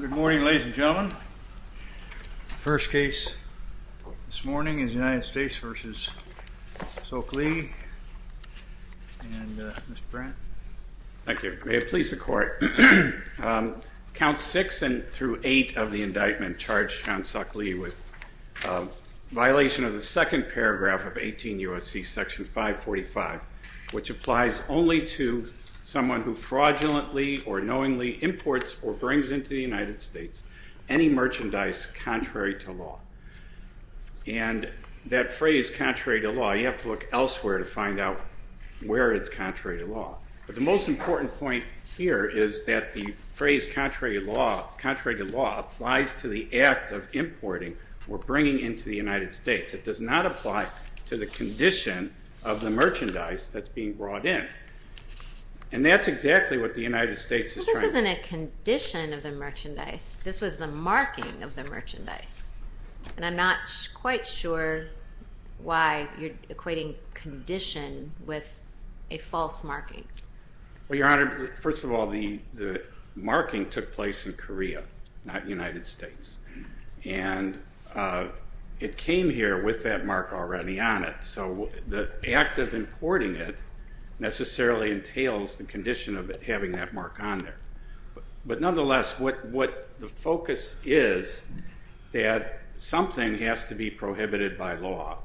Good morning ladies and gentlemen. The first case this morning is United States v. Heon Seok Lee and Mr. Brandt. Thank you. May it please the court. Count 6 through 8 of the indictment charged Heon Seok Lee with violation of the second paragraph of 18 U.S.C. section 545, which applies only to someone who fraudulently or knowingly imports or brings into the United States any merchandise contrary to law. And that phrase contrary to law, you have to look elsewhere to find out where it's contrary to law. But the most important point here is that the phrase contrary to law applies to the act of importing or bringing into the United States. It does not apply to the condition of the merchandise that's being brought in. And that's exactly what the United States is trying to do. But this isn't a condition of the merchandise. This was the marking of the merchandise. And I'm not quite sure why you're equating condition with a false marking. Well, Your Honor, first of all, the marking took place in Korea, not United States. And it came here with that mark already on it. So the act of importing it necessarily entails the condition of it having that mark on there. But nonetheless, what the focus is that something has to be prohibited by law.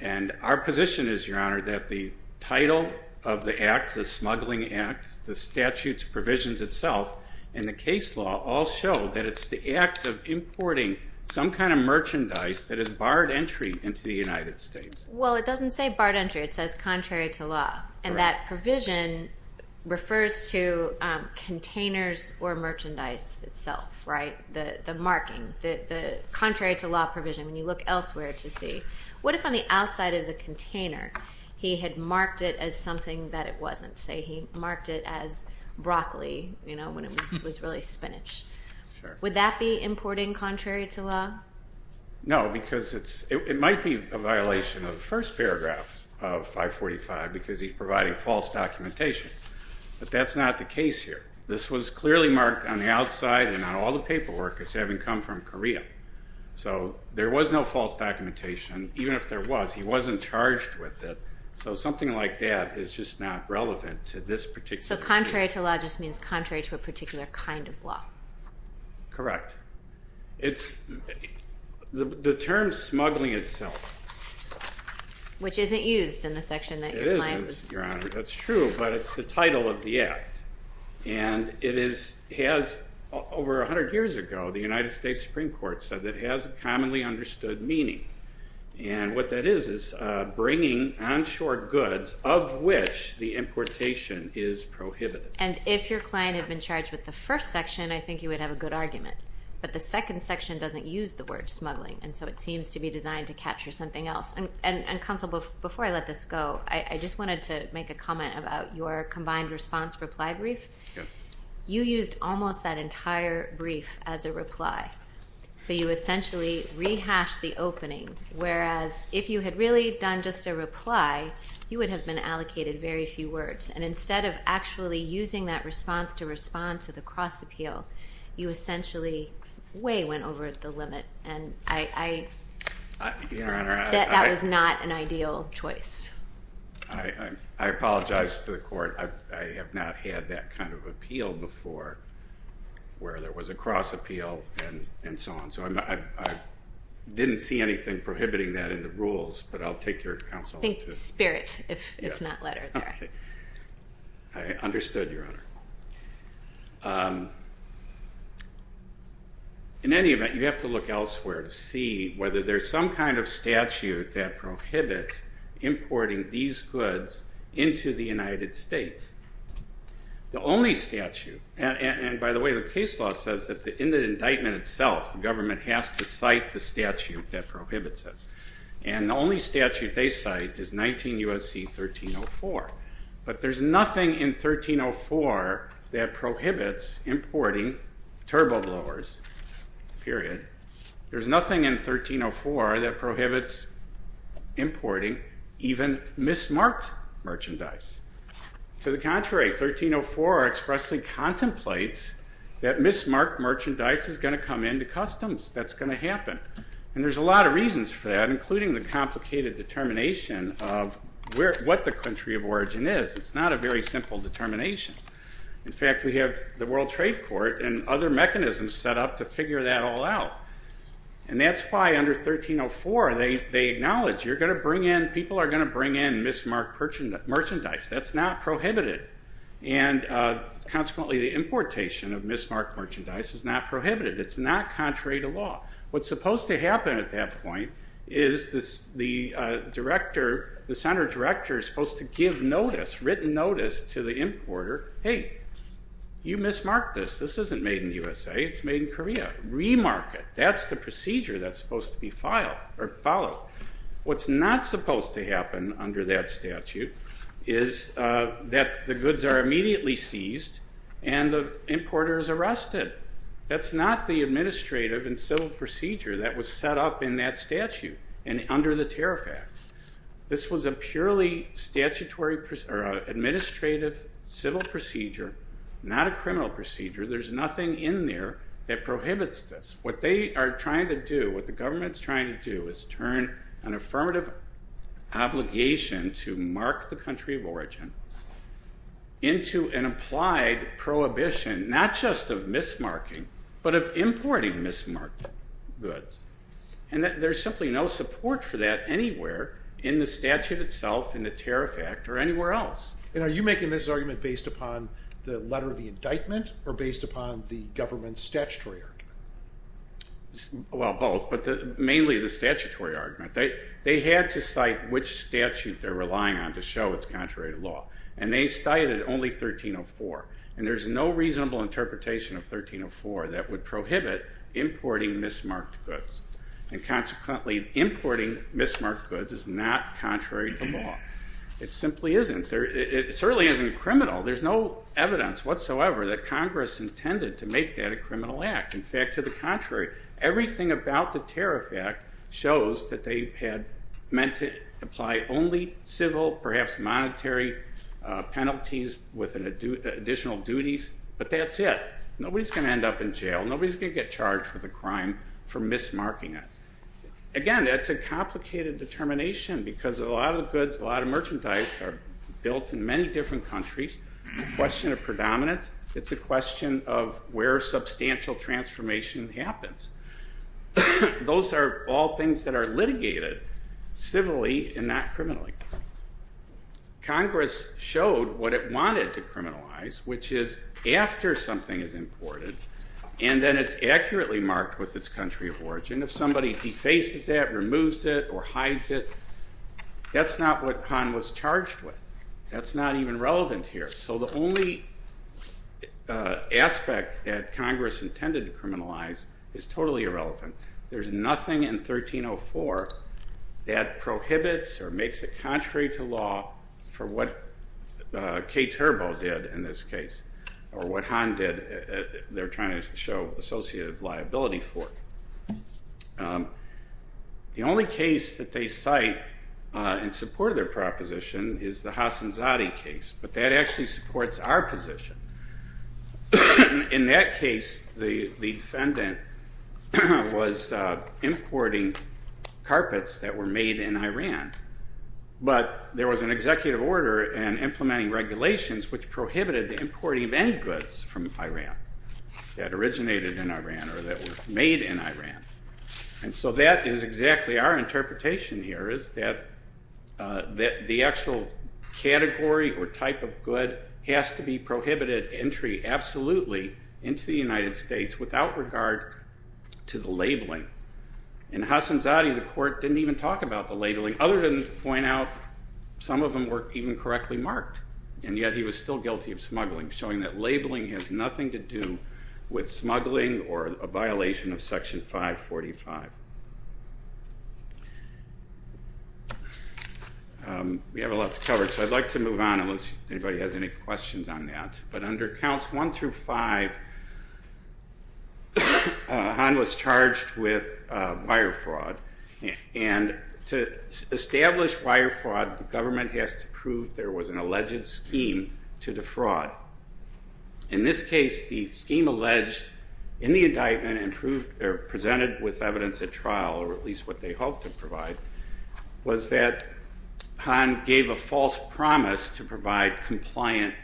And our position is, Your Honor, that the title of the act, the smuggling act, the statutes provisions itself and the case law all show that it's the act of importing some kind of merchandise that is barred entry into the United States. Well, it doesn't say barred entry. It says contrary to law. And that provision refers to containers or merchandise itself. The marking, the contrary to law provision, when you look elsewhere to see, what if on the outside of the container he had marked it as something that it wasn't? Say he marked it as broccoli when it was really spinach. Would that be importing contrary to law? No, because it might be a violation of the first paragraph of 545 because he's providing false documentation. But that's not the case here. This was clearly marked on the outside and on all the paperwork as having come from Korea. So there was no false documentation. Even if there was, he wasn't charged with it. So something like that is just not relevant to this particular case. So contrary to law just means contrary to a particular kind of law. Correct. The term smuggling itself. Which isn't used in the section that your client was... That's true, but it's the title of the act. And it has, over 100 years ago, the United States Supreme Court said it has a commonly understood meaning. And what that is, is bringing onshore goods of which the importation is prohibited. And if your client had been charged with the first section, I think you would have a good argument. But the second section doesn't use the word smuggling, and so it seems to be designed to capture something else. Counsel, before I let this go, I just wanted to make a comment about your combined response reply brief. You used almost that entire brief as a reply. So you essentially rehashed the opening, whereas if you had really done just a reply, you would have been allocated very few words. And instead of actually using that response to respond to the cross-appeal, you essentially way went over the limit. Your Honor, I... That was not an ideal choice. I apologize to the court. I have not had that kind of appeal before, where there was a cross-appeal and so on. So I didn't see anything prohibiting that in the rules, but I'll take your counsel to... Think spirit, if not letter there. I understood, Your Honor. In any event, you have to look elsewhere to see whether there's some kind of statute that prohibits importing these goods into the United States. The only statute, and by the way, the case law says that in the indictment itself, the government has to cite the statute that prohibits it. And the only statute they cite is 19 U.S.C. 1304. But there's nothing in 1304 that prohibits importing turbo blowers, period. There's nothing in 1304 that prohibits importing even mismarked merchandise. To the contrary, 1304 expressly contemplates that mismarked merchandise is going to come into customs. That's going to happen. And there's a lot of reasons for that, including the complicated determination of what the country of origin is. It's not a very simple determination. In fact, we have the World Trade Court and other mechanisms set up to figure that all out. And that's why under 1304, they acknowledge you're going to bring in, people are going to bring in mismarked merchandise. That's not prohibited. And consequently, the importation of mismarked merchandise is not prohibited. It's not contrary to law. What's supposed to happen at that point is the center director is supposed to give written notice to the importer, hey, you mismarked this. This isn't made in the USA. It's made in Korea. Remark it. That's the procedure that's supposed to be followed. What's not supposed to happen under that statute is that the goods are immediately seized and the importer is arrested. That's not the administrative and civil procedure that was set up in that statute and under the Tariff Act. This was a purely administrative civil procedure, not a criminal procedure. There's nothing in there that prohibits this. What they are trying to do, what the government's trying to do is turn an affirmative obligation to mark the country of origin into an applied prohibition, not just of mismarking, but of importing mismarked goods. And there's simply no support for that anywhere in the statute itself, in the Tariff Act, or anywhere else. And are you making this argument based upon the letter of the indictment or based upon the government's statutory argument? Well, both, but mainly the statutory argument. They had to cite which statute they're relying on to show it's contrary to law, and they cited only 1304. And there's no reasonable interpretation of 1304 that would prohibit importing mismarked goods. And consequently, importing mismarked goods is not contrary to law. It simply isn't. It certainly isn't criminal. There's no evidence whatsoever that Congress intended to make that a criminal act. In fact, to the contrary, everything about the Tariff Act shows that they had meant to apply only civil, perhaps monetary penalties with additional duties. But that's it. Nobody's going to end up in jail. Nobody's going to get charged with a crime for mismarking it. Again, that's a complicated determination because a lot of goods, a lot of merchandise are built in many different countries. It's a question of predominance. It's a question of where substantial transformation happens. Those are all things that are litigated civilly and not criminally. Congress showed what it wanted to criminalize, which is after something is imported, and then it's accurately marked with its country of origin. If somebody defaces that, removes it, or hides it, that's not what Han was charged with. That's not even relevant here. So the only aspect that Congress intended to criminalize is totally irrelevant. There's nothing in 1304 that prohibits or makes it contrary to law for what K-Turbo did in this case or what Han did. They're trying to show associative liability for it. The only case that they cite in support of their proposition is the Hassan Zadi case, but that actually supports our position. In that case, the defendant was importing carpets that were made in Iran, but there was an executive order and implementing regulations which prohibited the importing of any goods from Iran that originated in Iran or that were made in Iran. And so that is exactly our interpretation here, is that the actual category or type of good has to be prohibited entry absolutely into the United States without regard to the labeling. In Hassan Zadi, the court didn't even talk about the labeling, other than to point out some of them weren't even correctly marked. And yet he was still guilty of smuggling, showing that labeling has nothing to do with smuggling or a violation of Section 545. We have a lot to cover, so I'd like to move on unless anybody has any questions on that. But under Counts 1 through 5, Han was charged with wire fraud. And to establish wire fraud, the government has to prove there was an alleged scheme to defraud. In this case, the scheme alleged in the indictment and presented with evidence at trial, or at least what they hoped to provide, was that Han gave a false promise to provide compliant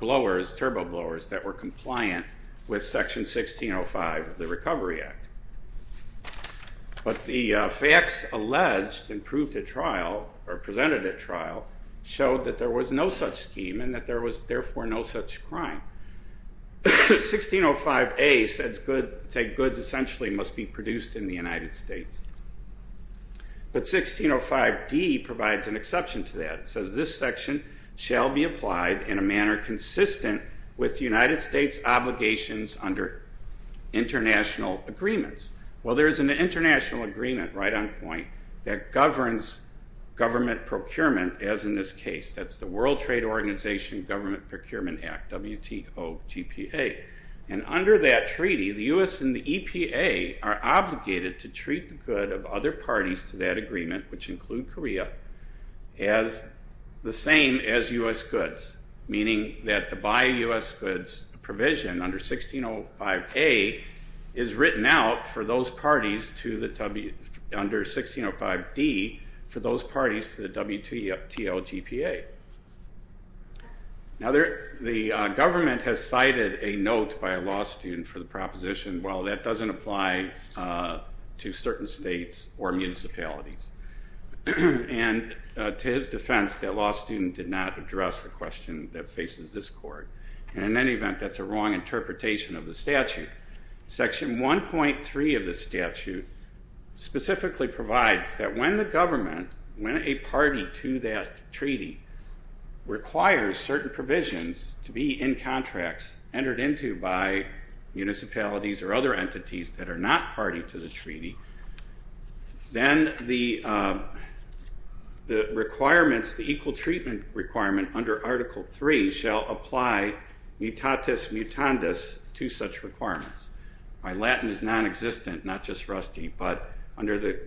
blowers, turbo blowers, that were compliant with Section 1605 of the Recovery Act. But the facts alleged and proved at trial, or presented at trial, showed that there was no such scheme and that there was therefore no such crime. 1605A says goods essentially must be produced in the United States. But 1605D provides an exception to that. It says this section shall be applied in a manner consistent with United States obligations under international agreements. Well, there is an international agreement right on point that governs government procurement, as in this case. That's the World Trade Organization Government Procurement Act, WTOGPA. And under that treaty, the U.S. and the EPA are obligated to treat the good of other parties to that agreement, which include Korea, as the same as U.S. goods, meaning that to buy U.S. goods provision under 1605A is written out for those parties under 1605D, for those parties to the WTOGPA. Now, the government has cited a note by a law student for the proposition, well, that doesn't apply to certain states or municipalities. And to his defense, that law student did not address the question that faces this court. And in any event, that's a wrong interpretation of the statute. Section 1.3 of the statute specifically provides that when the government, when a party to that treaty, requires certain provisions to be in contracts entered into by municipalities or other entities that are not party to the treaty, then the requirements, the equal treatment requirement under Article III shall apply mutatis mutandis to such requirements. By Latin, it's nonexistent, not just rusty. But under the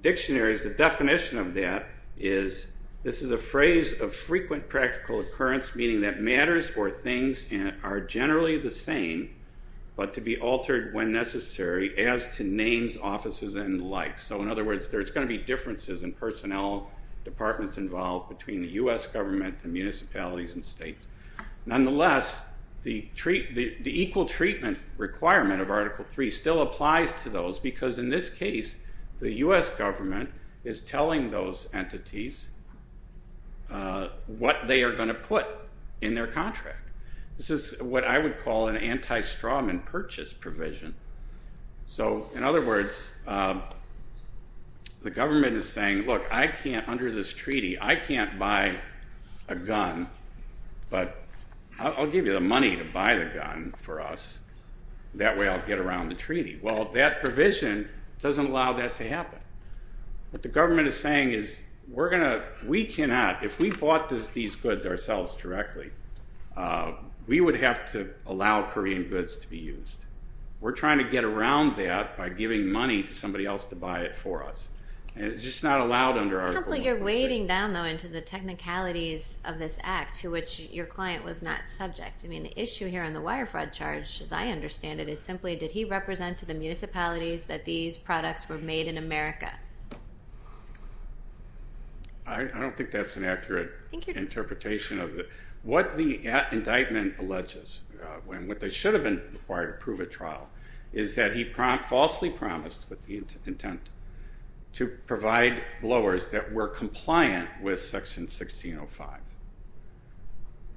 dictionaries, the definition of that is, this is a phrase of frequent practical occurrence, meaning that matters or things are generally the same, but to be altered when necessary as to names, offices, and the like. So in other words, there's going to be differences in personnel, departments involved between the U.S. government and municipalities and states. Nonetheless, the equal treatment requirement of Article III still applies to those, because in this case, the U.S. government is telling those entities what they are going to put in their contract. This is what I would call an anti-strawman purchase provision. So in other words, the government is saying, look, I can't, under this treaty, I can't buy a gun, but I'll give you the money to buy the gun for us. That way I'll get around the treaty. Well, that provision doesn't allow that to happen. What the government is saying is, we're going to, we cannot, if we bought these goods ourselves directly, we would have to allow Korean goods to be used. We're trying to get around that by giving money to somebody else to buy it for us. And it's just not allowed under Article III. Counsel, you're wading down, though, into the technicalities of this act to which your client was not subject. I mean, the issue here on the wire fraud charge, as I understand it, is simply, did he represent to the municipalities that these products were made in America? I don't think that's an accurate interpretation of it. What the indictment alleges, and what should have been required to prove at trial, is that he falsely promised with the intent to provide blowers that were compliant with Section 1605.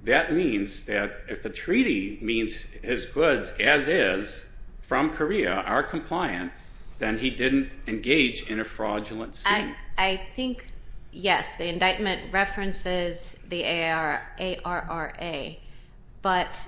That means that if the treaty means his goods, as is, from Korea are compliant, then he didn't engage in a fraudulent scheme. I think, yes, the indictment references the ARRA, but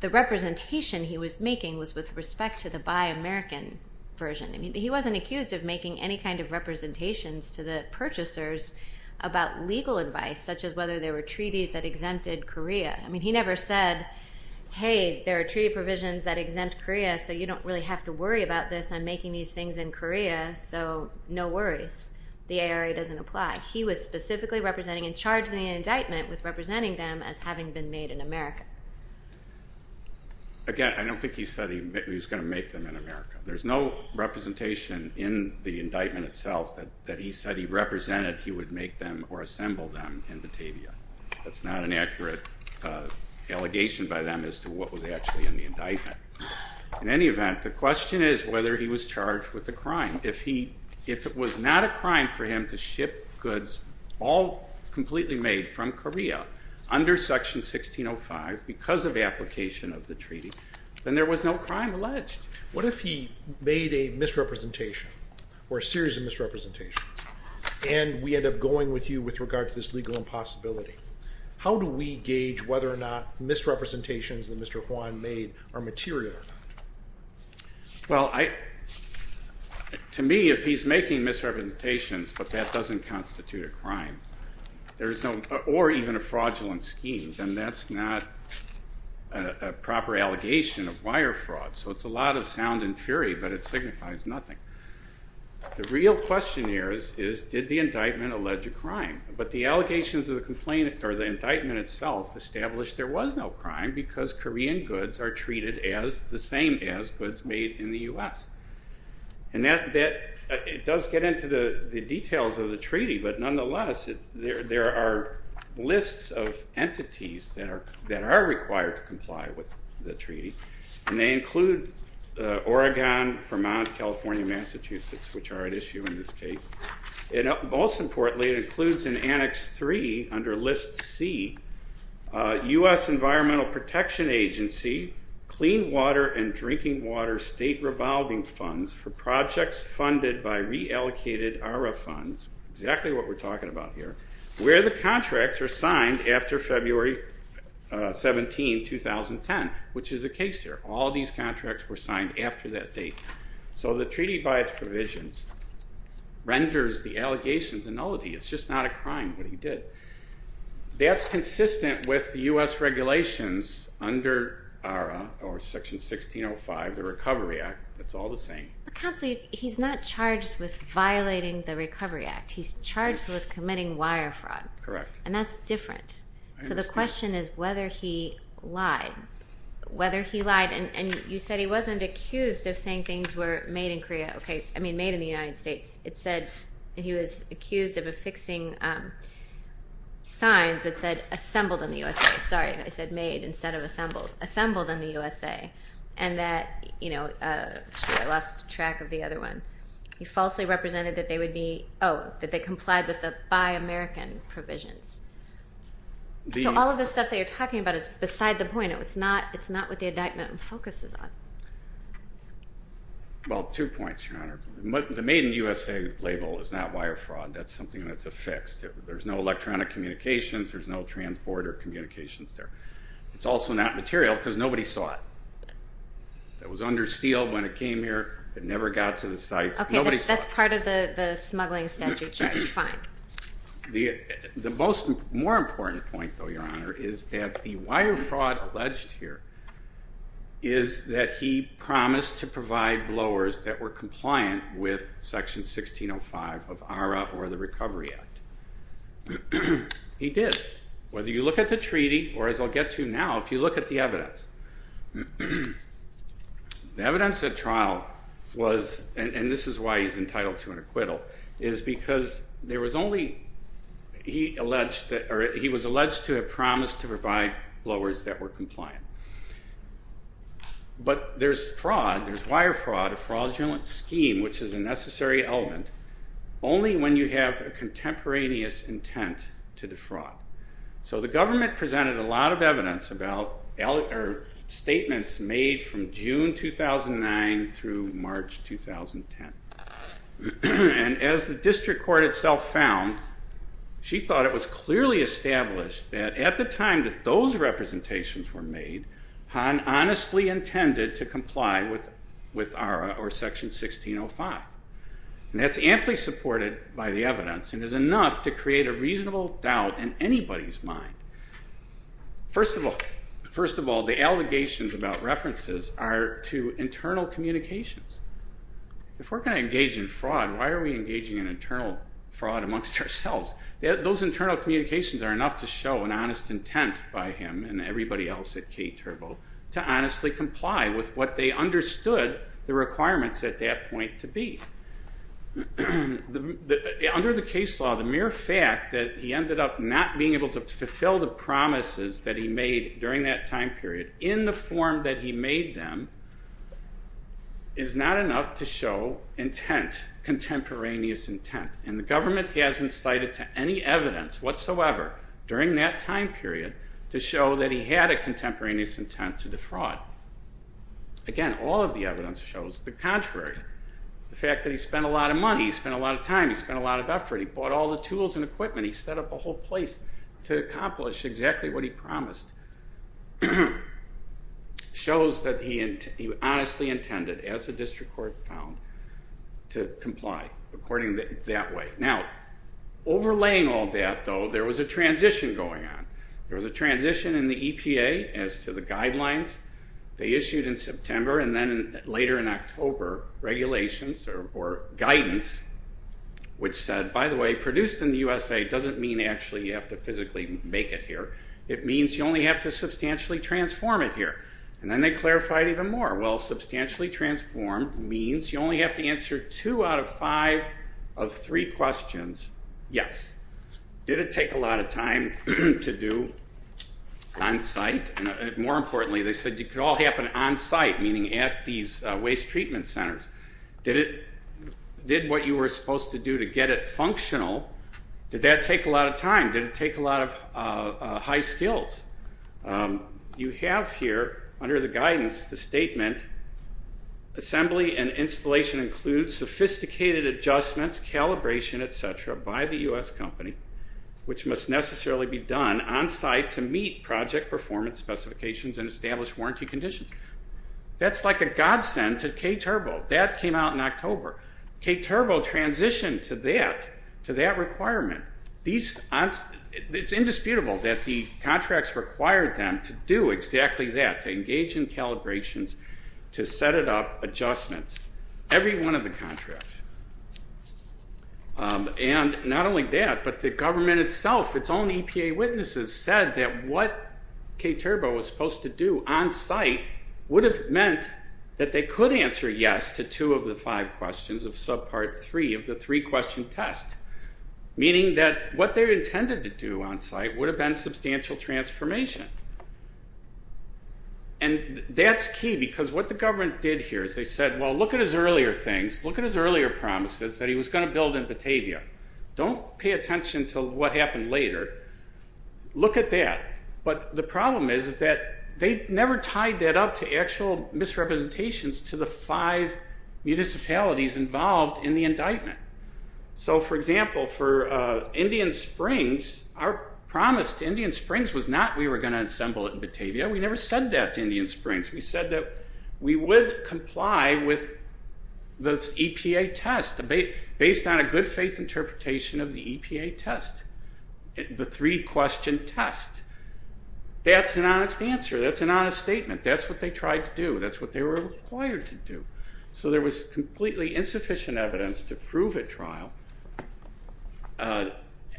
the representation he was making was with respect to the Buy American version. I mean, he wasn't accused of making any kind of representations to the purchasers about legal advice, such as whether there were treaties that exempted Korea. I mean, he never said, hey, there are treaty provisions that exempt Korea, so you don't really have to worry about this. I'm making these things in Korea, so no worries. The ARRA doesn't apply. He was specifically representing and charged in the indictment with representing them as having been made in America. Again, I don't think he said he was going to make them in America. There's no representation in the indictment itself that he said he represented or said he would make them or assemble them in Batavia. That's not an accurate allegation by them as to what was actually in the indictment. In any event, the question is whether he was charged with a crime. If it was not a crime for him to ship goods all completely made from Korea under Section 1605 because of application of the treaty, then there was no crime alleged. What if he made a misrepresentation or a series of misrepresentations and we end up going with you with regard to this legal impossibility? How do we gauge whether or not misrepresentations that Mr. Hwan made are material or not? Well, to me, if he's making misrepresentations but that doesn't constitute a crime or even a fraudulent scheme, then that's not a proper allegation of wire fraud. So it's a lot of sound and fury, but it signifies nothing. The real question here is did the indictment allege a crime? But the allegations of the indictment itself establish there was no crime because Korean goods are treated the same as goods made in the U.S. It does get into the details of the treaty, but nonetheless, there are lists of entities that are required to comply with the treaty, and they include Oregon, Vermont, California, Massachusetts, which are at issue in this case. And most importantly, it includes in Annex 3 under List C, U.S. Environmental Protection Agency Clean Water and Drinking Water State Revolving Funds for projects funded by reallocated ARRA funds, exactly what we're talking about here, where the contracts are signed after February 17, 2010, which is the case here. All these contracts were signed after that date. So the treaty, by its provisions, renders the allegations a nullity. It's just not a crime what he did. That's consistent with U.S. regulations under Section 1605, the Recovery Act. It's all the same. Counsel, he's not charged with violating the Recovery Act. He's charged with committing wire fraud. Correct. And that's different. So the question is whether he lied, whether he lied. And you said he wasn't accused of saying things were made in Korea. I mean made in the United States. It said he was accused of affixing signs that said assembled in the U.S. Sorry, I said made instead of assembled. Assembled in the U.S.A. And that, you know, I lost track of the other one. He falsely represented that they would be, oh, that they complied with the Buy American provisions. So all of the stuff that you're talking about is beside the point. It's not what the indictment focuses on. Well, two points, Your Honor. The Made in the U.S.A. label is not wire fraud. That's something that's affixed. There's no electronic communications. There's no transport or communications there. It's also not material because nobody saw it. It was under steel when it came here. It never got to the sites. Okay, that's part of the smuggling statute, Judge. Fine. The more important point, though, Your Honor, is that the wire fraud alleged here is that he promised to provide blowers that were compliant with Section 1605 of ARA or the Recovery Act. He did. Whether you look at the treaty or, as I'll get to now, if you look at the and this is why he's entitled to an acquittal, is because there was only he was alleged to have promised to provide blowers that were compliant. But there's wire fraud, a fraudulent scheme, which is a necessary element, only when you have a contemporaneous intent to defraud. So the government presented a lot of evidence about statements made from June 2009 through March 2010. And as the district court itself found, she thought it was clearly established that at the time that those representations were made, Han honestly intended to comply with ARA or Section 1605. That's amply supported by the evidence and is enough to create a reasonable doubt in anybody's mind. First of all, the allegations about references are to internal communications. If we're going to engage in fraud, why are we engaging in internal fraud amongst ourselves? Those internal communications are enough to show an honest intent by him and everybody else at K-Turbo to honestly comply with what they understood the requirements at that point to be. Under the case law, the mere fact that he ended up not being able to fulfill the promises that he made during that time period in the form that he made them is not enough to show intent, contemporaneous intent. And the government hasn't cited any evidence whatsoever during that time period to show that he had a contemporaneous intent to defraud. Again, all of the evidence shows the contrary. The fact that he spent a lot of money, he spent a lot of time, he spent a lot of effort, he bought all the tools and equipment, he set up a whole place to accomplish exactly what he promised, shows that he honestly intended, as the district court found, to comply according that way. Now, overlaying all that, though, there was a transition going on. There was a transition in the EPA as to the guidelines they issued in September and then later in October, regulations or guidance, which said, by the way, produced in the USA doesn't mean actually you have to physically make it here. It means you only have to substantially transform it here. And then they clarified even more. Well, substantially transformed means you only have to answer two out of five of three questions, yes. Did it take a lot of time to do on-site? More importantly, they said it could all happen on-site, meaning at these waste treatment centers. Did what you were supposed to do to get it functional, did that take a lot of time? Did it take a lot of high skills? You have here, under the guidance, the statement, assembly and installation includes sophisticated adjustments, calibration, et cetera, by the U.S. company, which must necessarily be done on-site to meet project performance specifications and establish warranty conditions. That's like a godsend to K-Turbo. That came out in October. K-Turbo transitioned to that requirement. It's indisputable that the contracts required them to do exactly that, to engage in calibrations, to set it up, adjustments, every one of the contracts. And not only that, but the government itself, its own EPA witnesses said that what K-Turbo was supposed to do on-site would have meant that they could answer yes to two of the five questions of subpart three of the three-question test, meaning that what they intended to do on-site would have been substantial transformation. And that's key because what the government did here is they said, well, look at his earlier things, look at his earlier promises that he was going to build in Batavia. Don't pay attention to what happened later. Look at that. But the problem is that they never tied that up to actual misrepresentations to the five municipalities involved in the indictment. So, for example, for Indian Springs, our promise to Indian Springs was not we were going to assemble it in Batavia. We never said that to Indian Springs. We said that we would comply with the EPA test based on a good-faith interpretation of the EPA test, the three-question test. That's an honest answer. That's an honest statement. That's what they tried to do. That's what they were required to do. So there was completely insufficient evidence to prove at trial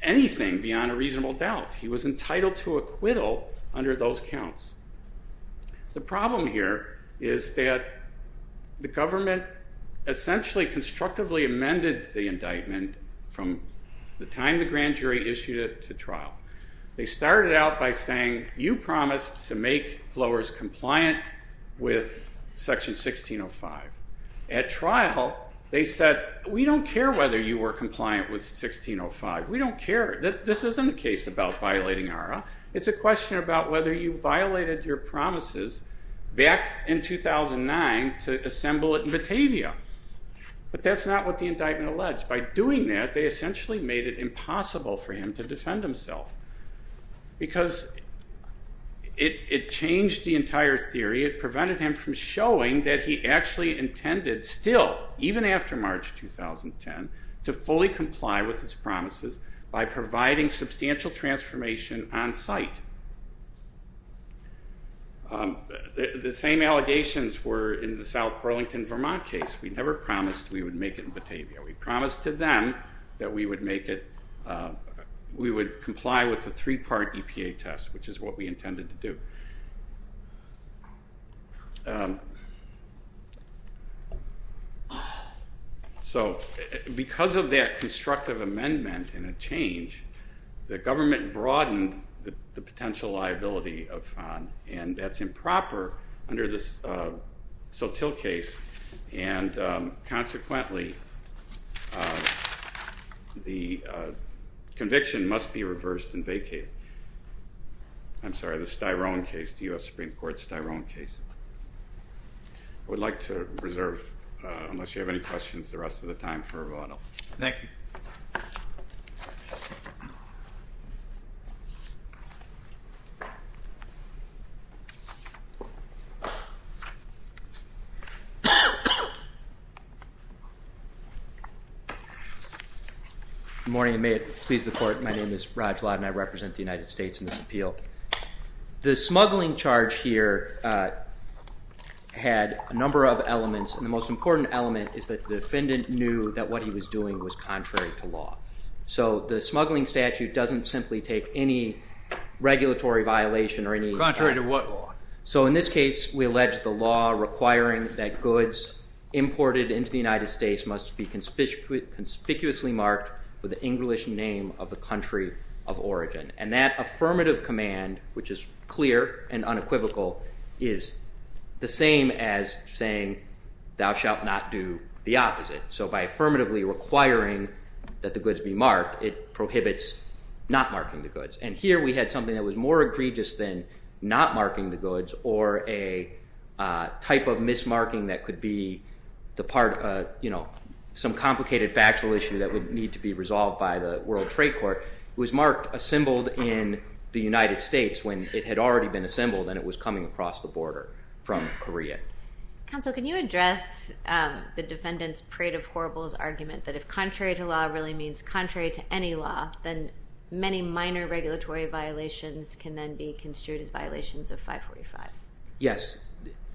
anything beyond a reasonable doubt. He was entitled to acquittal under those counts. The problem here is that the government essentially constructively amended the indictment from the time the grand jury issued it to trial. They started out by saying, you promised to make blowers compliant with Section 1605. At trial, they said, we don't care whether you were compliant with 1605. We don't care. This isn't a case about violating ARRA. It's a question about whether you violated your promises back in 2009 to assemble it in Batavia. But that's not what the indictment alleged. By doing that, they essentially made it impossible for him to defend himself because it changed the entire theory. It prevented him from showing that he actually intended still, even after March 2010, to fully comply with his promises by providing substantial transformation on site. The same allegations were in the South Burlington-Vermont case. We never promised we would make it in Batavia. We promised to them that we would make it, we would comply with the three-part EPA test, which is what we intended to do. Um... So, because of that constructive amendment and a change, the government broadened the potential liability of FON, and that's improper under this Sotil case, and consequently... ..the conviction must be reversed and vacated. I'm sorry, the Styron case, the US Supreme Court Styron case. I would like to reserve, unless you have any questions, the rest of the time for a vote. Thank you. My name is Raj Lad and I represent the United States in this appeal. The smuggling charge here had a number of elements, and the most important element is that the defendant knew that what he was doing was contrary to law. So the smuggling statute doesn't simply take any regulatory violation... Contrary to what law? So in this case, we allege the law requiring that goods imported into the United States must be conspicuously marked with the English name of the country of origin. And that affirmative command, which is clear and unequivocal, is the same as saying, thou shalt not do the opposite. So by affirmatively requiring that the goods be marked, it prohibits not marking the goods. And here we had something that was more egregious than not marking the goods or a type of mismarking that could be the part of, you know, some complicated factual issue that would need to be resolved by the World Trade Court. It was marked assembled in the United States when it had already been assembled and it was coming across the border from Korea. Counsel, can you address the defendant's parade of horribles argument that if contrary to law really means contrary to any law, then many minor regulatory violations can then be construed as violations of 545? Yes,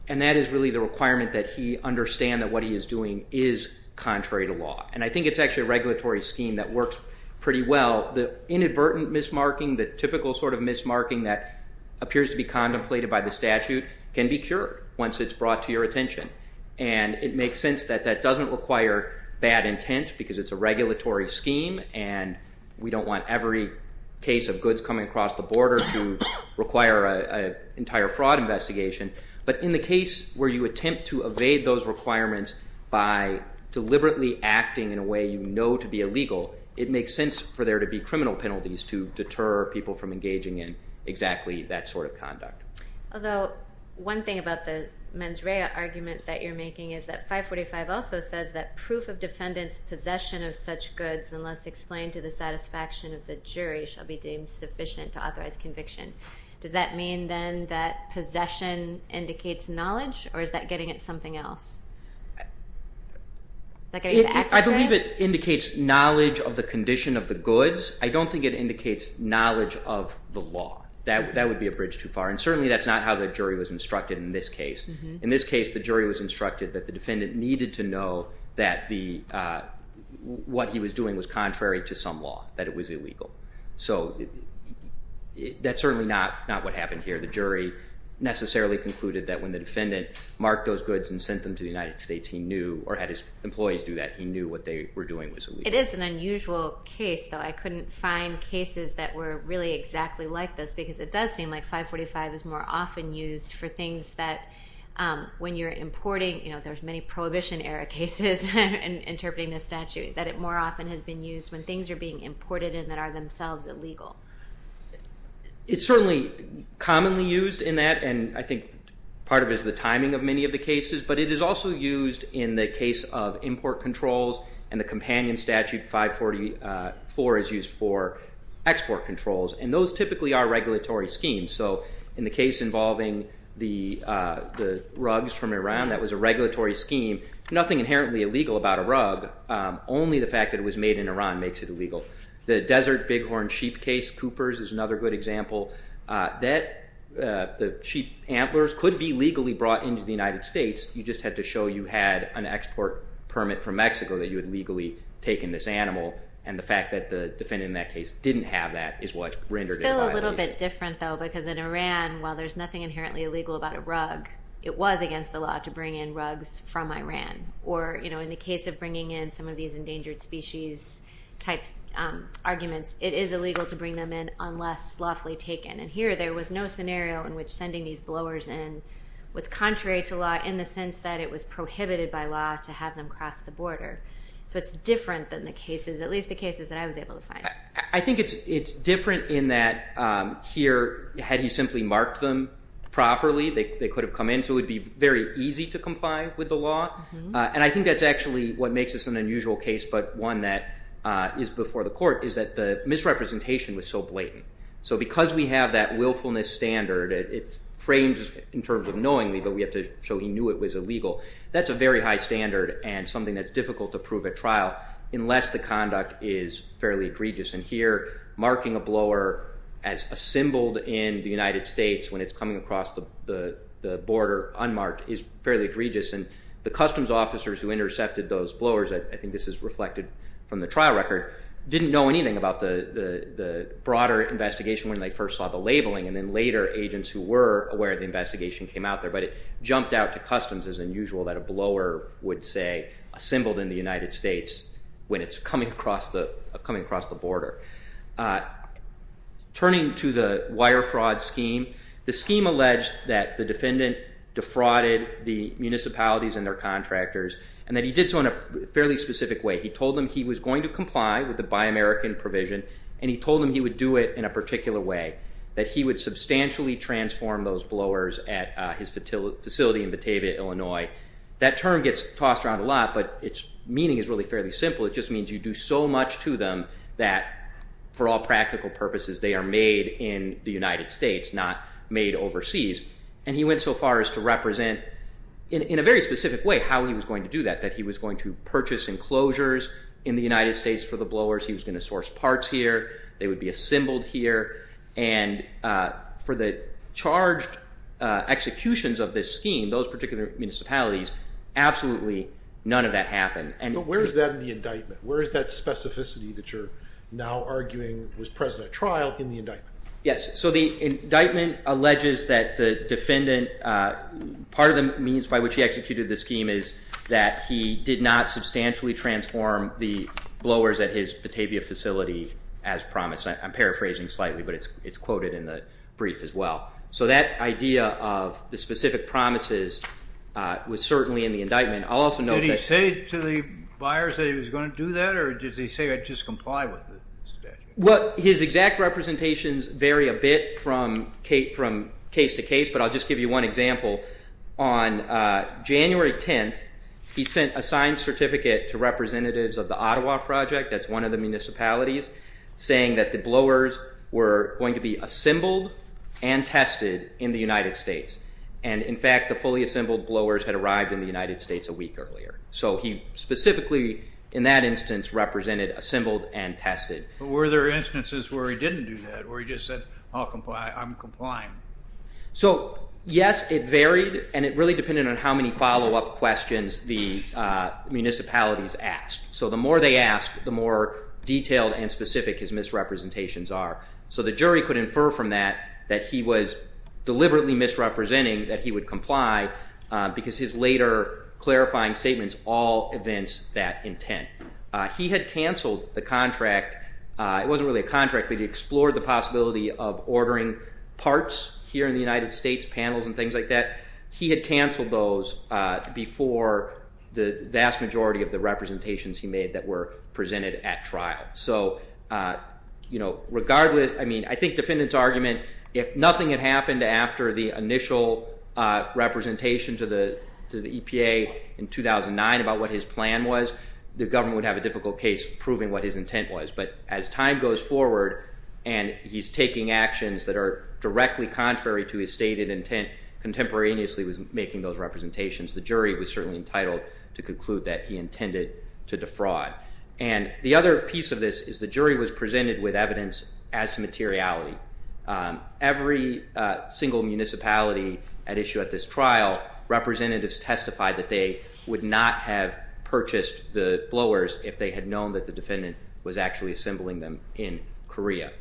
and that is really the requirement that he understand that what he is doing is contrary to law. And I think it's actually a regulatory scheme that works pretty well. The inadvertent mismarking, the typical sort of mismarking that appears to be contemplated by the statute can be cured once it's brought to your attention. And it makes sense that that doesn't require bad intent because it's a regulatory scheme and we don't want every case of goods coming across the border to require an entire fraud investigation. But in the case where you attempt to evade those requirements by deliberately acting in a way you know to be illegal, it makes sense for there to be criminal penalties to deter people from engaging in exactly that sort of conduct. Although one thing about the mens rea argument that you're making is that 545 also says that proof of defendant's possession of such goods unless explained to the satisfaction of the jury shall be deemed sufficient to authorize conviction. Does that mean then that possession indicates knowledge or is that getting at something else? I believe it indicates knowledge of the condition of the goods. I don't think it indicates knowledge of the law. That would be a bridge too far. And certainly that's not how the jury was instructed in this case. In this case, the jury was instructed that the defendant needed to know that what he was doing was contrary to some law, that it was illegal. So that's certainly not what happened here. The jury necessarily concluded that when the defendant marked those goods and sent them to the United States, he knew, or had his employees do that, he knew what they were doing was illegal. It is an unusual case, though. I couldn't find cases that were really exactly like this because it does seem like 545 is more often used for things that when you're importing, you know, there's many Prohibition-era cases interpreting this statute, that it more often has been used when things are being imported and that are themselves illegal. It's certainly commonly used in that, and I think part of it is the timing of many of the cases, but it is also used in the case of import controls and the companion statute 544 is used for export controls, and those typically are regulatory schemes. So in the case involving the rugs from Iran, that was a regulatory scheme. Nothing inherently illegal about a rug, only the fact that it was made in Iran makes it illegal. The desert bighorn sheep case, Cooper's, is another good example. The sheep antlers could be legally brought into the United States. You just had to show you had an export permit from Mexico that you had legally taken this animal, and the fact that the defendant in that case didn't have that is what rendered it violated. It's still a little bit different, though, because in Iran, while there's nothing inherently illegal about a rug, it was against the law to bring in rugs from Iran. Or in the case of bringing in some of these endangered species type arguments, it is illegal to bring them in unless lawfully taken, and here there was no scenario in which sending these blowers in was contrary to law in the sense that it was prohibited by law to have them cross the border. So it's different than the cases, at least the cases that I was able to find. I think it's different in that here, had you simply marked them properly, they could have come in, so it would be very easy to comply with the law. And I think that's actually what makes this an unusual case, but one that is before the court is that the misrepresentation was so blatant. So because we have that willfulness standard, it's framed in terms of knowingly, but we have to show he knew it was illegal. That's a very high standard and something that's difficult to prove at trial unless the conduct is fairly egregious. And here marking a blower as assembled in the United States when it's coming across the border unmarked is fairly egregious, and the customs officers who intercepted those blowers, I think this is reflected from the trial record, didn't know anything about the broader investigation when they first saw the labeling, and then later agents who were aware of the investigation came out there. But it jumped out to customs as unusual that a blower would say assembled in the United States when it's coming across the border. Turning to the wire fraud scheme, the scheme alleged that the defendant defrauded the municipalities and their contractors, and that he did so in a fairly specific way. He told them he was going to comply with the Buy American provision, and he told them he would do it in a particular way, that he would substantially transform those blowers at his facility in Batavia, Illinois. That term gets tossed around a lot, but its meaning is really fairly simple. It just means you do so much to them that for all practical purposes they are made in the United States, not made overseas. And he went so far as to represent in a very specific way how he was going to do that, that he was going to purchase enclosures in the United States for the blowers. He was going to source parts here. They would be assembled here. And for the charged executions of this scheme, those particular municipalities, absolutely none of that happened. But where is that in the indictment? Where is that specificity that you're now arguing was present at trial in the indictment? Yes. So the indictment alleges that the defendant, part of the means by which he executed the scheme is that he did not substantially transform the blowers at his Batavia facility as promised. I'm paraphrasing slightly, but it's quoted in the brief as well. So that idea of the specific promises was certainly in the indictment. Did he say to the buyers that he was going to do that, or did he say he would just comply with the statute? Well, his exact representations vary a bit from case to case, but I'll just give you one example. On January 10th, he sent a signed certificate to representatives of the Ottawa Project, that's one of the municipalities, saying that the blowers were going to be assembled and tested in the United States. And, in fact, the fully assembled blowers had arrived in the United States a week earlier. So he specifically, in that instance, represented assembled and tested. But were there instances where he didn't do that, where he just said, I'll comply, I'm complying? So, yes, it varied, and it really depended on how many follow-up questions the municipalities asked. So the more they asked, the more detailed and specific his misrepresentations are. So the jury could infer from that that he was deliberately misrepresenting that he would comply because his later clarifying statements all evince that intent. He had canceled the contract. It wasn't really a contract, but he explored the possibility of ordering parts here in the United States, panels and things like that. He had canceled those before the vast majority of the representations he made that were presented at trial. So, you know, regardless, I mean, I think defendant's argument, if nothing had happened after the initial representation to the EPA in 2009 about what his plan was, the government would have a difficult case proving what his intent was. But as time goes forward and he's taking actions that are directly contrary to his stated intent contemporaneously with making those representations, the jury was certainly entitled to conclude that he intended to defraud. And the other piece of this is the jury was presented with evidence as to materiality. Every single municipality at issue at this trial, representatives testified that they would not have purchased the blowers if they had known that the defendant was actually assembling them in Korea.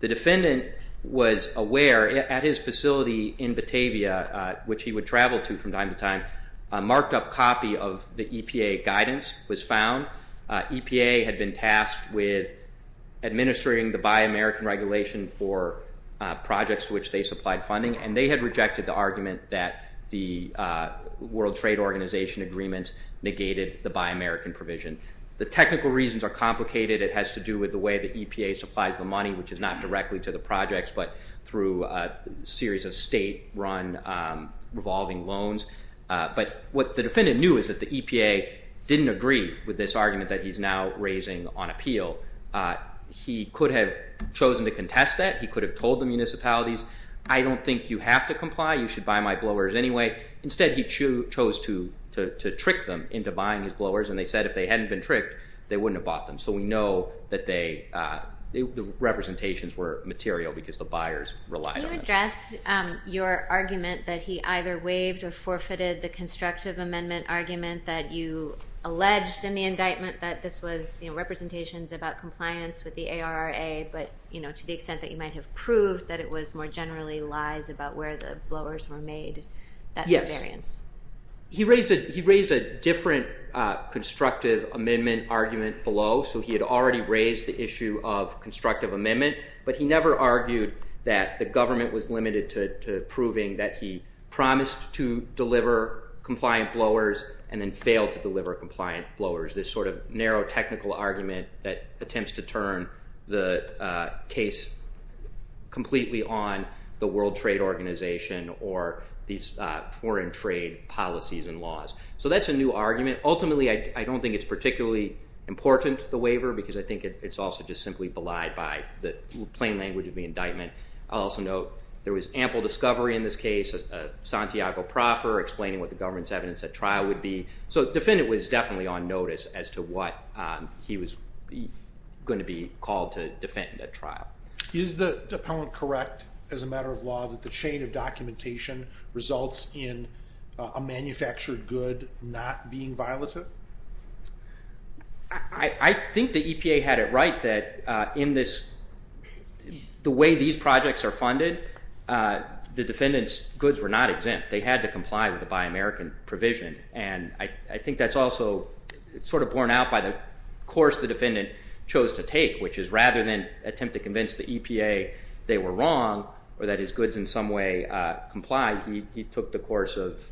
The defendant was aware at his facility in Batavia, which he would travel to from time to time, a marked-up copy of the EPA guidance was found. EPA had been tasked with administering the Buy American regulation for projects to which they supplied funding, and they had rejected the argument that the World Trade Organization agreement negated the Buy American provision. The technical reasons are complicated. It has to do with the way the EPA supplies the money, which is not directly to the projects, but through a series of state-run revolving loans. But what the defendant knew is that the EPA didn't agree with this argument that he's now raising on appeal. He could have chosen to contest that. He could have told the municipalities, I don't think you have to comply, you should buy my blowers anyway. Instead, he chose to trick them into buying his blowers, and they said if they hadn't been tricked, they wouldn't have bought them. So we know that the representations were material because the buyers relied on them. Can you address your argument that he either waived or forfeited the constructive amendment argument that you alleged in the indictment that this was representations about compliance with the ARRA, but to the extent that you might have proved that it was more generally lies about where the blowers were made, that's a variance? He raised a different constructive amendment argument below. So he had already raised the issue of constructive amendment, but he never argued that the government was limited to proving that he promised to deliver compliant blowers and then failed to deliver compliant blowers, this sort of narrow technical argument that attempts to turn the case completely on the World Trade Organization or these foreign trade policies and laws. So that's a new argument. Ultimately, I don't think it's particularly important, the waiver, because I think it's also just simply belied by the plain language of the indictment. I'll also note there was ample discovery in this case of Santiago Proffer explaining what the government's evidence at trial would be. So the defendant was definitely on notice as to what he was going to be called to defend at trial. Is the dependent correct as a matter of law that the chain of documentation results in a manufactured good not being violative? I think the EPA had it right that in the way these projects are funded, the defendant's goods were not exempt. They had to comply with the Buy American provision, and I think that's also sort of borne out by the course the defendant chose to take, which is rather than attempt to convince the EPA they were wrong or that his goods in some way complied, he took the course of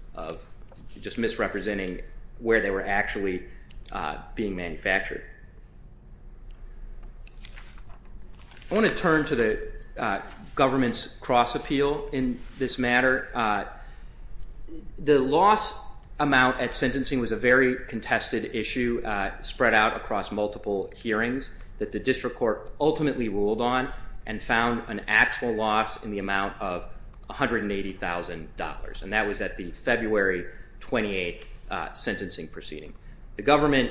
just misrepresenting where they were actually being manufactured. I want to turn to the government's cross-appeal in this matter. The loss amount at sentencing was a very contested issue spread out across multiple hearings that the district court ultimately ruled on and found an actual loss in the amount of $180,000, and that was at the February 28th sentencing proceeding. The government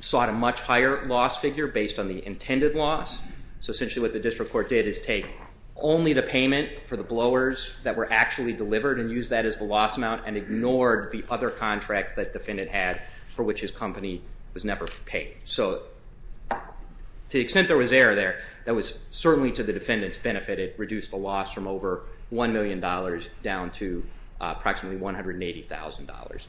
sought a much higher loss figure based on the intended loss, so essentially what the district court did is take only the payment for the blowers that were actually delivered and used that as the loss amount and ignored the other contracts that the defendant had for which his company was never paid. So to the extent there was error there, that was certainly to the defendant's benefit. It reduced the loss from over $1 million down to approximately $180,000.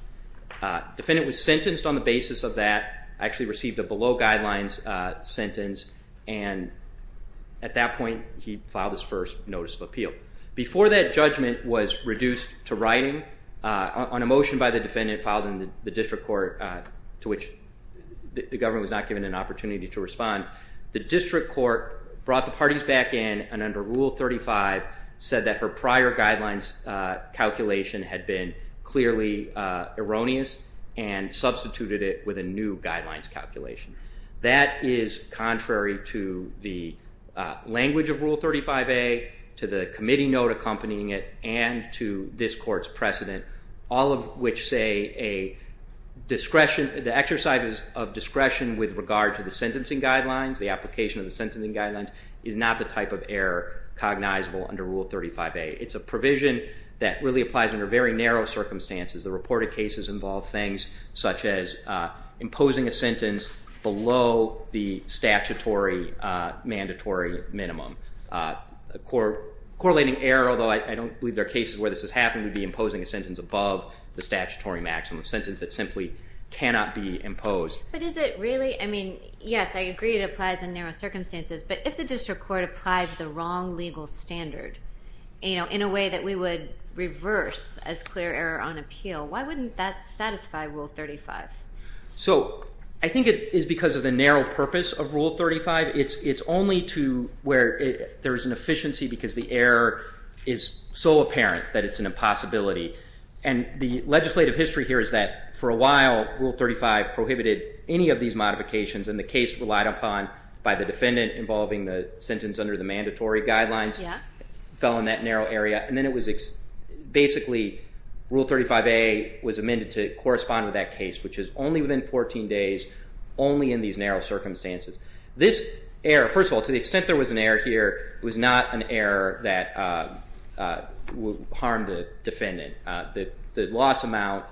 The defendant was sentenced on the basis of that, actually received a below guidelines sentence, and at that point he filed his first notice of appeal. Before that, judgment was reduced to writing on a motion by the defendant filed in the district court to which the government was not given an opportunity to respond. The district court brought the parties back in and under Rule 35 said that her prior guidelines calculation had been clearly erroneous and substituted it with a new guidelines calculation. That is contrary to the language of Rule 35A, to the committee note accompanying it, and to this court's precedent, all of which say a discretion, the exercise of discretion with regard to the sentencing guidelines, the application of the sentencing guidelines is not the type of error cognizable under Rule 35A. It's a provision that really applies under very narrow circumstances. The reported cases involve things such as imposing a sentence below the statutory mandatory minimum. Correlating error, although I don't believe there are cases where this has to be imposing a sentence above the statutory maximum, a sentence that simply cannot be imposed. But is it really? I mean, yes, I agree it applies in narrow circumstances, but if the district court applies the wrong legal standard in a way that we would reverse as clear error on appeal, why wouldn't that satisfy Rule 35? So I think it is because of the narrow purpose of Rule 35. It's only to where there is an efficiency because the error is so apparent that it's an impossibility. And the legislative history here is that for a while, Rule 35 prohibited any of these modifications, and the case relied upon by the defendant involving the sentence under the mandatory guidelines fell in that narrow area. And then it was basically Rule 35A was amended to correspond with that case, which is only within 14 days, only in these narrow circumstances. This error, first of all, to the extent there was an error here, was not an error that harmed the defendant. The loss amount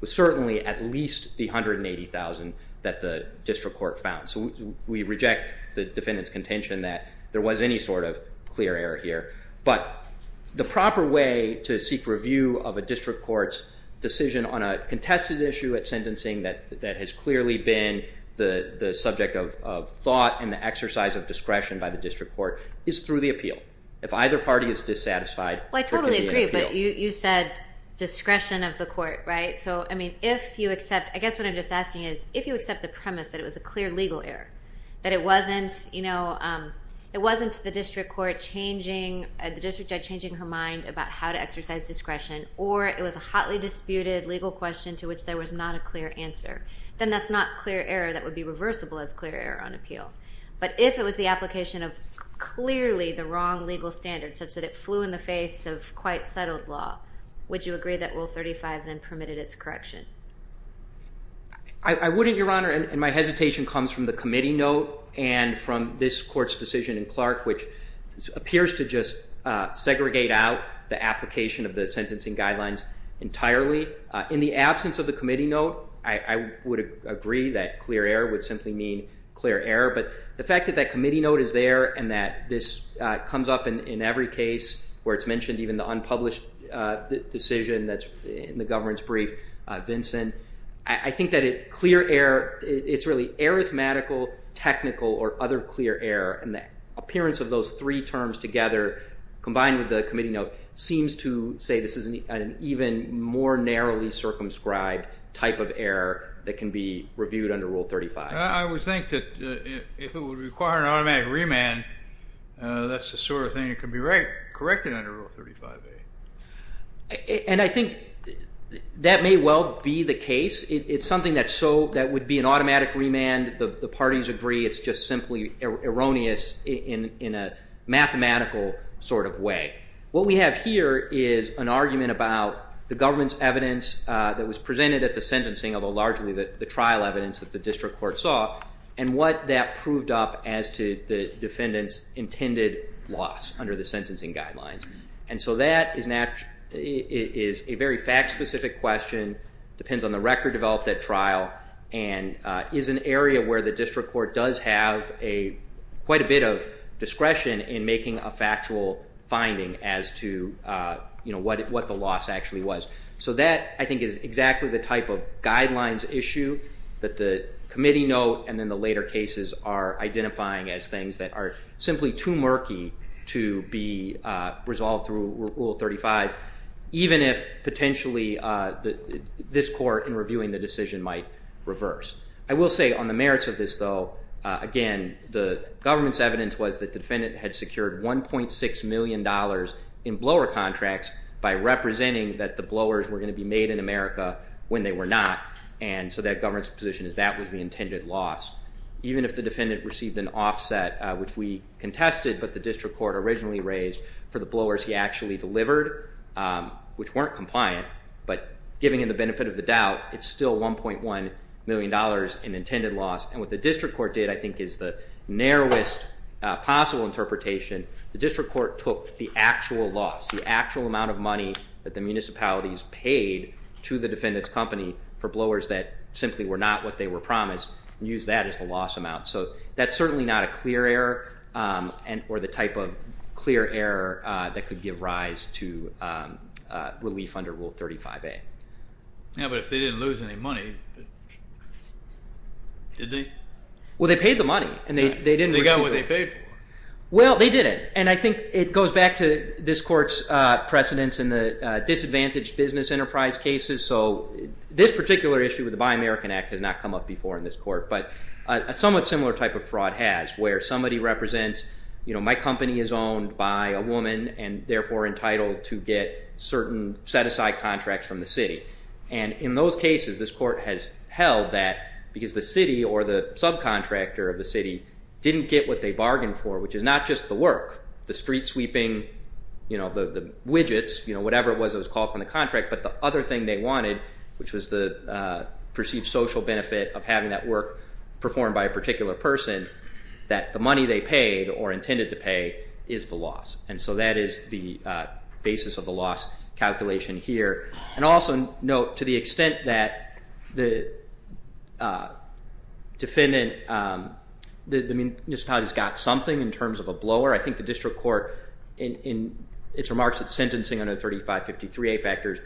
was certainly at least the $180,000 that the district court found, so we reject the defendant's contention that there was any sort of clear error here. But the proper way to seek review of a district court's decision on a contested issue at sentencing that has clearly been the subject of thought and the exercise of discretion by the district court is through the appeal. If either party is dissatisfied, there can be an appeal. I totally agree, but you said discretion of the court, right? I guess what I'm just asking is if you accept the premise that it was a clear legal error, that it wasn't the district judge changing her mind about how to exercise discretion, or it was a hotly disputed legal question to which there was not a clear answer, then that's not clear error that would be reversible as clear error on appeal. But if it was the application of clearly the wrong legal standard such that it flew in the face of quite settled law, would you agree that Rule 35 then permitted its correction? I wouldn't, Your Honor, and my hesitation comes from the committee note and from this court's decision in Clark, which appears to just segregate out the application of the sentencing guidelines entirely. In the absence of the committee note, I would agree that clear error would simply mean clear error, but the fact that that committee note is there and that this comes up in every case where it's mentioned, even the unpublished decision that's in the governance brief, Vincent, I think that clear error, it's really arithmetical, technical, or other clear error, and the appearance of those three terms together combined with the committee note seems to say this is an even more narrowly circumscribed type of error that can be corrected. I would think that if it would require an automatic remand, that's the sort of thing that can be corrected under Rule 35A. And I think that may well be the case. It's something that would be an automatic remand. The parties agree it's just simply erroneous in a mathematical sort of way. What we have here is an argument about the government's evidence that was presented at the sentencing, although largely the trial evidence that the court brought, and what that proved up as to the defendant's intended loss under the sentencing guidelines. And so that is a very fact-specific question, depends on the record developed at trial, and is an area where the district court does have quite a bit of discretion in making a factual finding as to what the loss actually was. So that, I think, is exactly the type of guidelines issue that the committee note and then the later cases are identifying as things that are simply too murky to be resolved through Rule 35, even if potentially this court in reviewing the decision might reverse. I will say on the merits of this, though, again, the government's evidence was that the defendant had secured $1.6 million in blower contracts by representing that the blowers were going to be made in America when they were not. And so that government's position is that was the intended loss. Even if the defendant received an offset, which we contested, but the district court originally raised for the blowers he actually delivered, which weren't compliant, but giving him the benefit of the doubt, it's still $1.1 million in intended loss. And what the district court did, I think, is the narrowest possible interpretation. The district court took the actual loss, the actual amount of money that the municipalities paid to the defendant's company for blowers that simply were not what they were promised and used that as the loss amount. So that's certainly not a clear error or the type of clear error that could give rise to relief under Rule 35A. Yeah, but if they didn't lose any money, did they? Well, they paid the money and they didn't receive it. They got what they paid for. Well, they didn't, and I think it goes back to this court's precedence in the disadvantaged business enterprise cases. So this particular issue with the Buy American Act has not come up before in this court, but a somewhat similar type of fraud has where somebody represents my company is owned by a woman and, therefore, entitled to get certain set-aside contracts from the city. And in those cases, this court has held that because the city or the work, the street sweeping, you know, the widgets, you know, whatever it was that was called from the contract, but the other thing they wanted, which was the perceived social benefit of having that work performed by a particular person, that the money they paid or intended to pay is the loss. And so that is the basis of the loss calculation here. And also note, to the extent that the defendant, the municipalities got something in terms of a blower, I think the district court in its remarks at sentencing under the 3553A factors,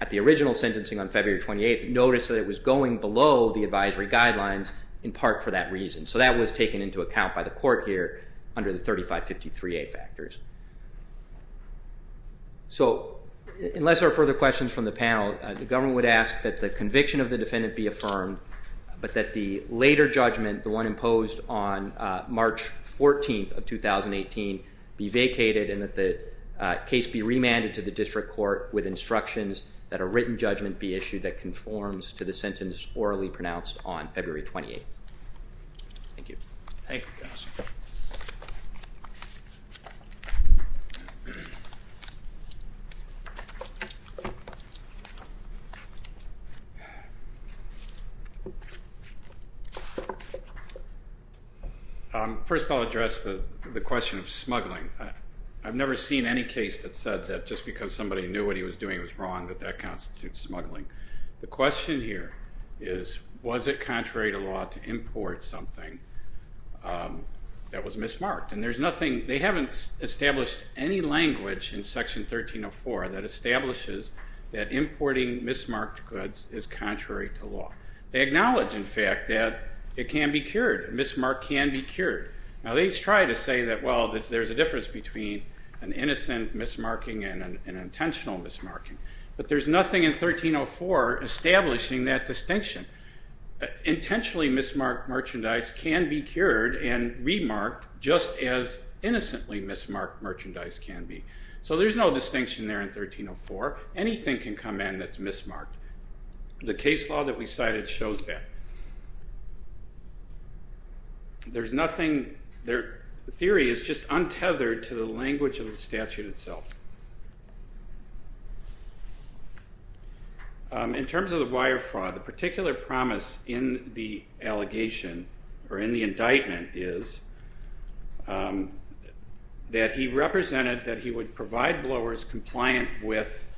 at the original sentencing on February 28th, noticed that it was going below the advisory guidelines in part for that reason. So that was taken into account by the court here under the 3553A factors. So unless there are further questions from the panel, the government would ask that the conviction of the defendant be affirmed, but that the later judgment, the one imposed on March 14th of 2018, be vacated and that the case be remanded to the district court with instructions that a written judgment be issued that conforms to the sentence orally pronounced on February 28th. Thank you. Thank you, counsel. First I'll address the question of smuggling. I've never seen any case that said that just because somebody knew what he was doing was wrong that that constitutes smuggling. The question here is, was it contrary to law to import something that was mismarked? And there's nothing, they haven't established any language in Section 1304 that establishes that importing mismarked goods is contrary to law. They acknowledge, in fact, that it can be cured. A mismark can be cured. Now they try to say that, well, there's a difference between an innocent mismarking and an intentional mismarking. But there's nothing in 1304 establishing that distinction. Intentionally mismarked merchandise can be cured and remarked just as innocently mismarked merchandise can be. So there's no distinction there in 1304. Anything can come in that's mismarked. The case law that we cited shows that. There's nothing, the theory is just untethered to the language of the statute itself. In terms of the wire fraud, the particular promise in the allegation or in the indictment is that he represented that he would provide blowers compliant with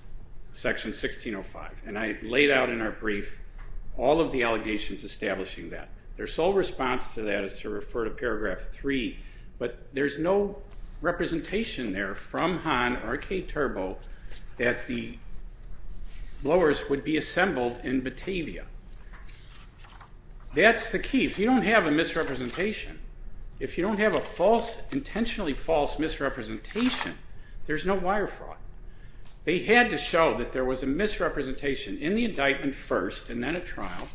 Section 1605. And I laid out in our brief all of the allegations establishing that. Their sole response to that is to refer to Paragraph 3, but there's no representation there from Hahn or K-Turbo that the blowers would be assembled in Batavia. That's the key. If you don't have a misrepresentation, if you don't have a false, intentionally false misrepresentation, there's no wire fraud. They had to show that there was a misrepresentation in the indictment first and then at trial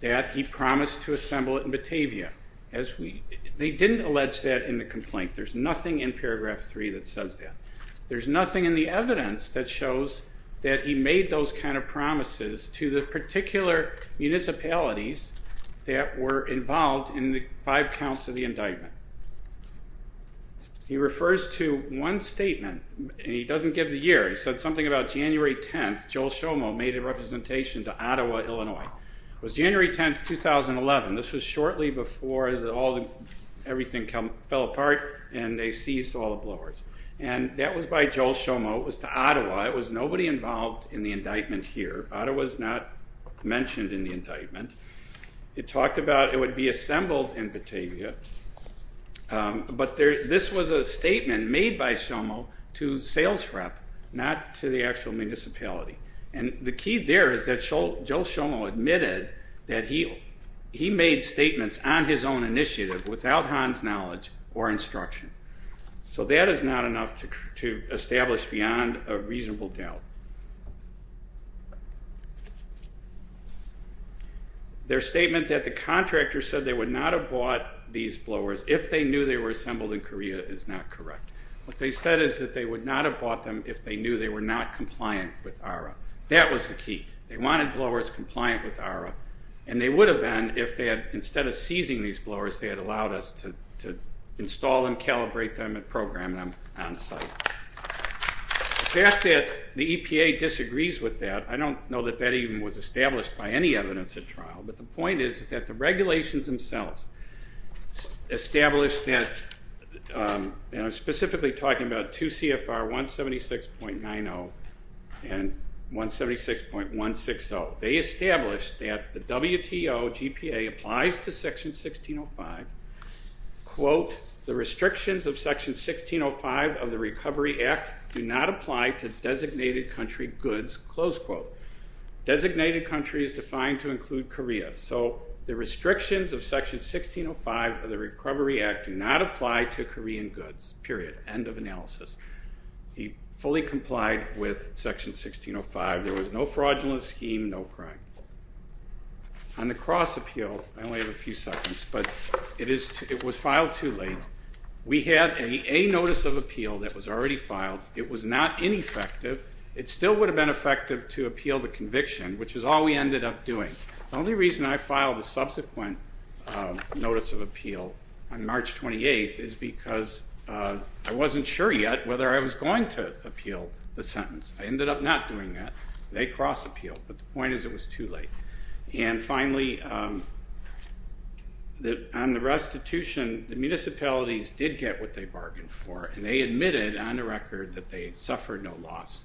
that he promised to assemble it in Batavia. They didn't allege that in the complaint. There's nothing in Paragraph 3 that says that. There's nothing in the evidence that shows that he made those kind of promises to the particular municipalities that were involved in the five counts of the indictment. He refers to one statement, and he doesn't give the year. He said something about January 10th. Joel Schomo made a representation to Ottawa, Illinois. It was January 10th, 2011. This was shortly before everything fell apart and they seized all the blowers. And that was by Joel Schomo. It was to Ottawa. It was nobody involved in the indictment here. Ottawa's not mentioned in the indictment. It talked about it would be assembled in Batavia. But this was a statement made by Schomo to sales rep, not to the actual municipality. And the key there is that Joel Schomo admitted that he made statements on his own initiative without Han's knowledge or instruction. So that is not enough to establish beyond a reasonable doubt. Their statement that the contractor said they would not have bought these blowers if they knew they were assembled in Korea is not correct. What they said is that they would not have bought them if they knew they were not compliant with ARRA. That was the key. They wanted blowers compliant with ARRA. And they would have been if they had, instead of seizing these blowers, if they had allowed us to install them, calibrate them, and program them on site. The fact that the EPA disagrees with that, I don't know that that even was established by any evidence at trial. But the point is that the regulations themselves established that, and I'm specifically talking about 2 CFR 176.90 and 176.160. They established that the WTO GPA applies to Section 16.05. Quote, the restrictions of Section 16.05 of the Recovery Act do not apply to designated country goods. Close quote. Designated country is defined to include Korea. So the restrictions of Section 16.05 of the Recovery Act do not apply to Korean goods. Period. End of analysis. He fully complied with Section 16.05. There was no fraudulent scheme, no crime. On the cross appeal, I only have a few seconds, but it was filed too late. We had a notice of appeal that was already filed. It was not ineffective. It still would have been effective to appeal the conviction, which is all we ended up doing. The only reason I filed a subsequent notice of appeal on March 28th I ended up not doing that. They cross appealed, but the point is it was too late. And finally, on the restitution, the municipalities did get what they bargained for, and they admitted on the record that they suffered no loss.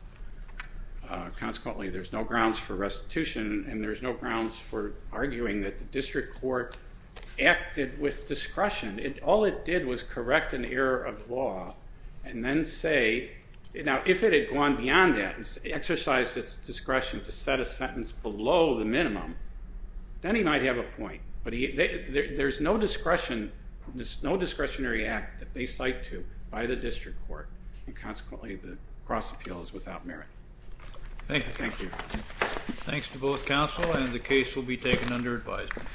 Consequently, there's no grounds for restitution, and there's no grounds for arguing that the district court acted with discretion. All it did was correct an error of law and then say, now if it had gone beyond that and exercised its discretion to set a sentence below the minimum, then he might have a point. But there's no discretionary act that they cite to by the district court, and consequently the cross appeal is without merit. Thank you. Thank you. Thanks to both counsel, and the case will be taken under advisement.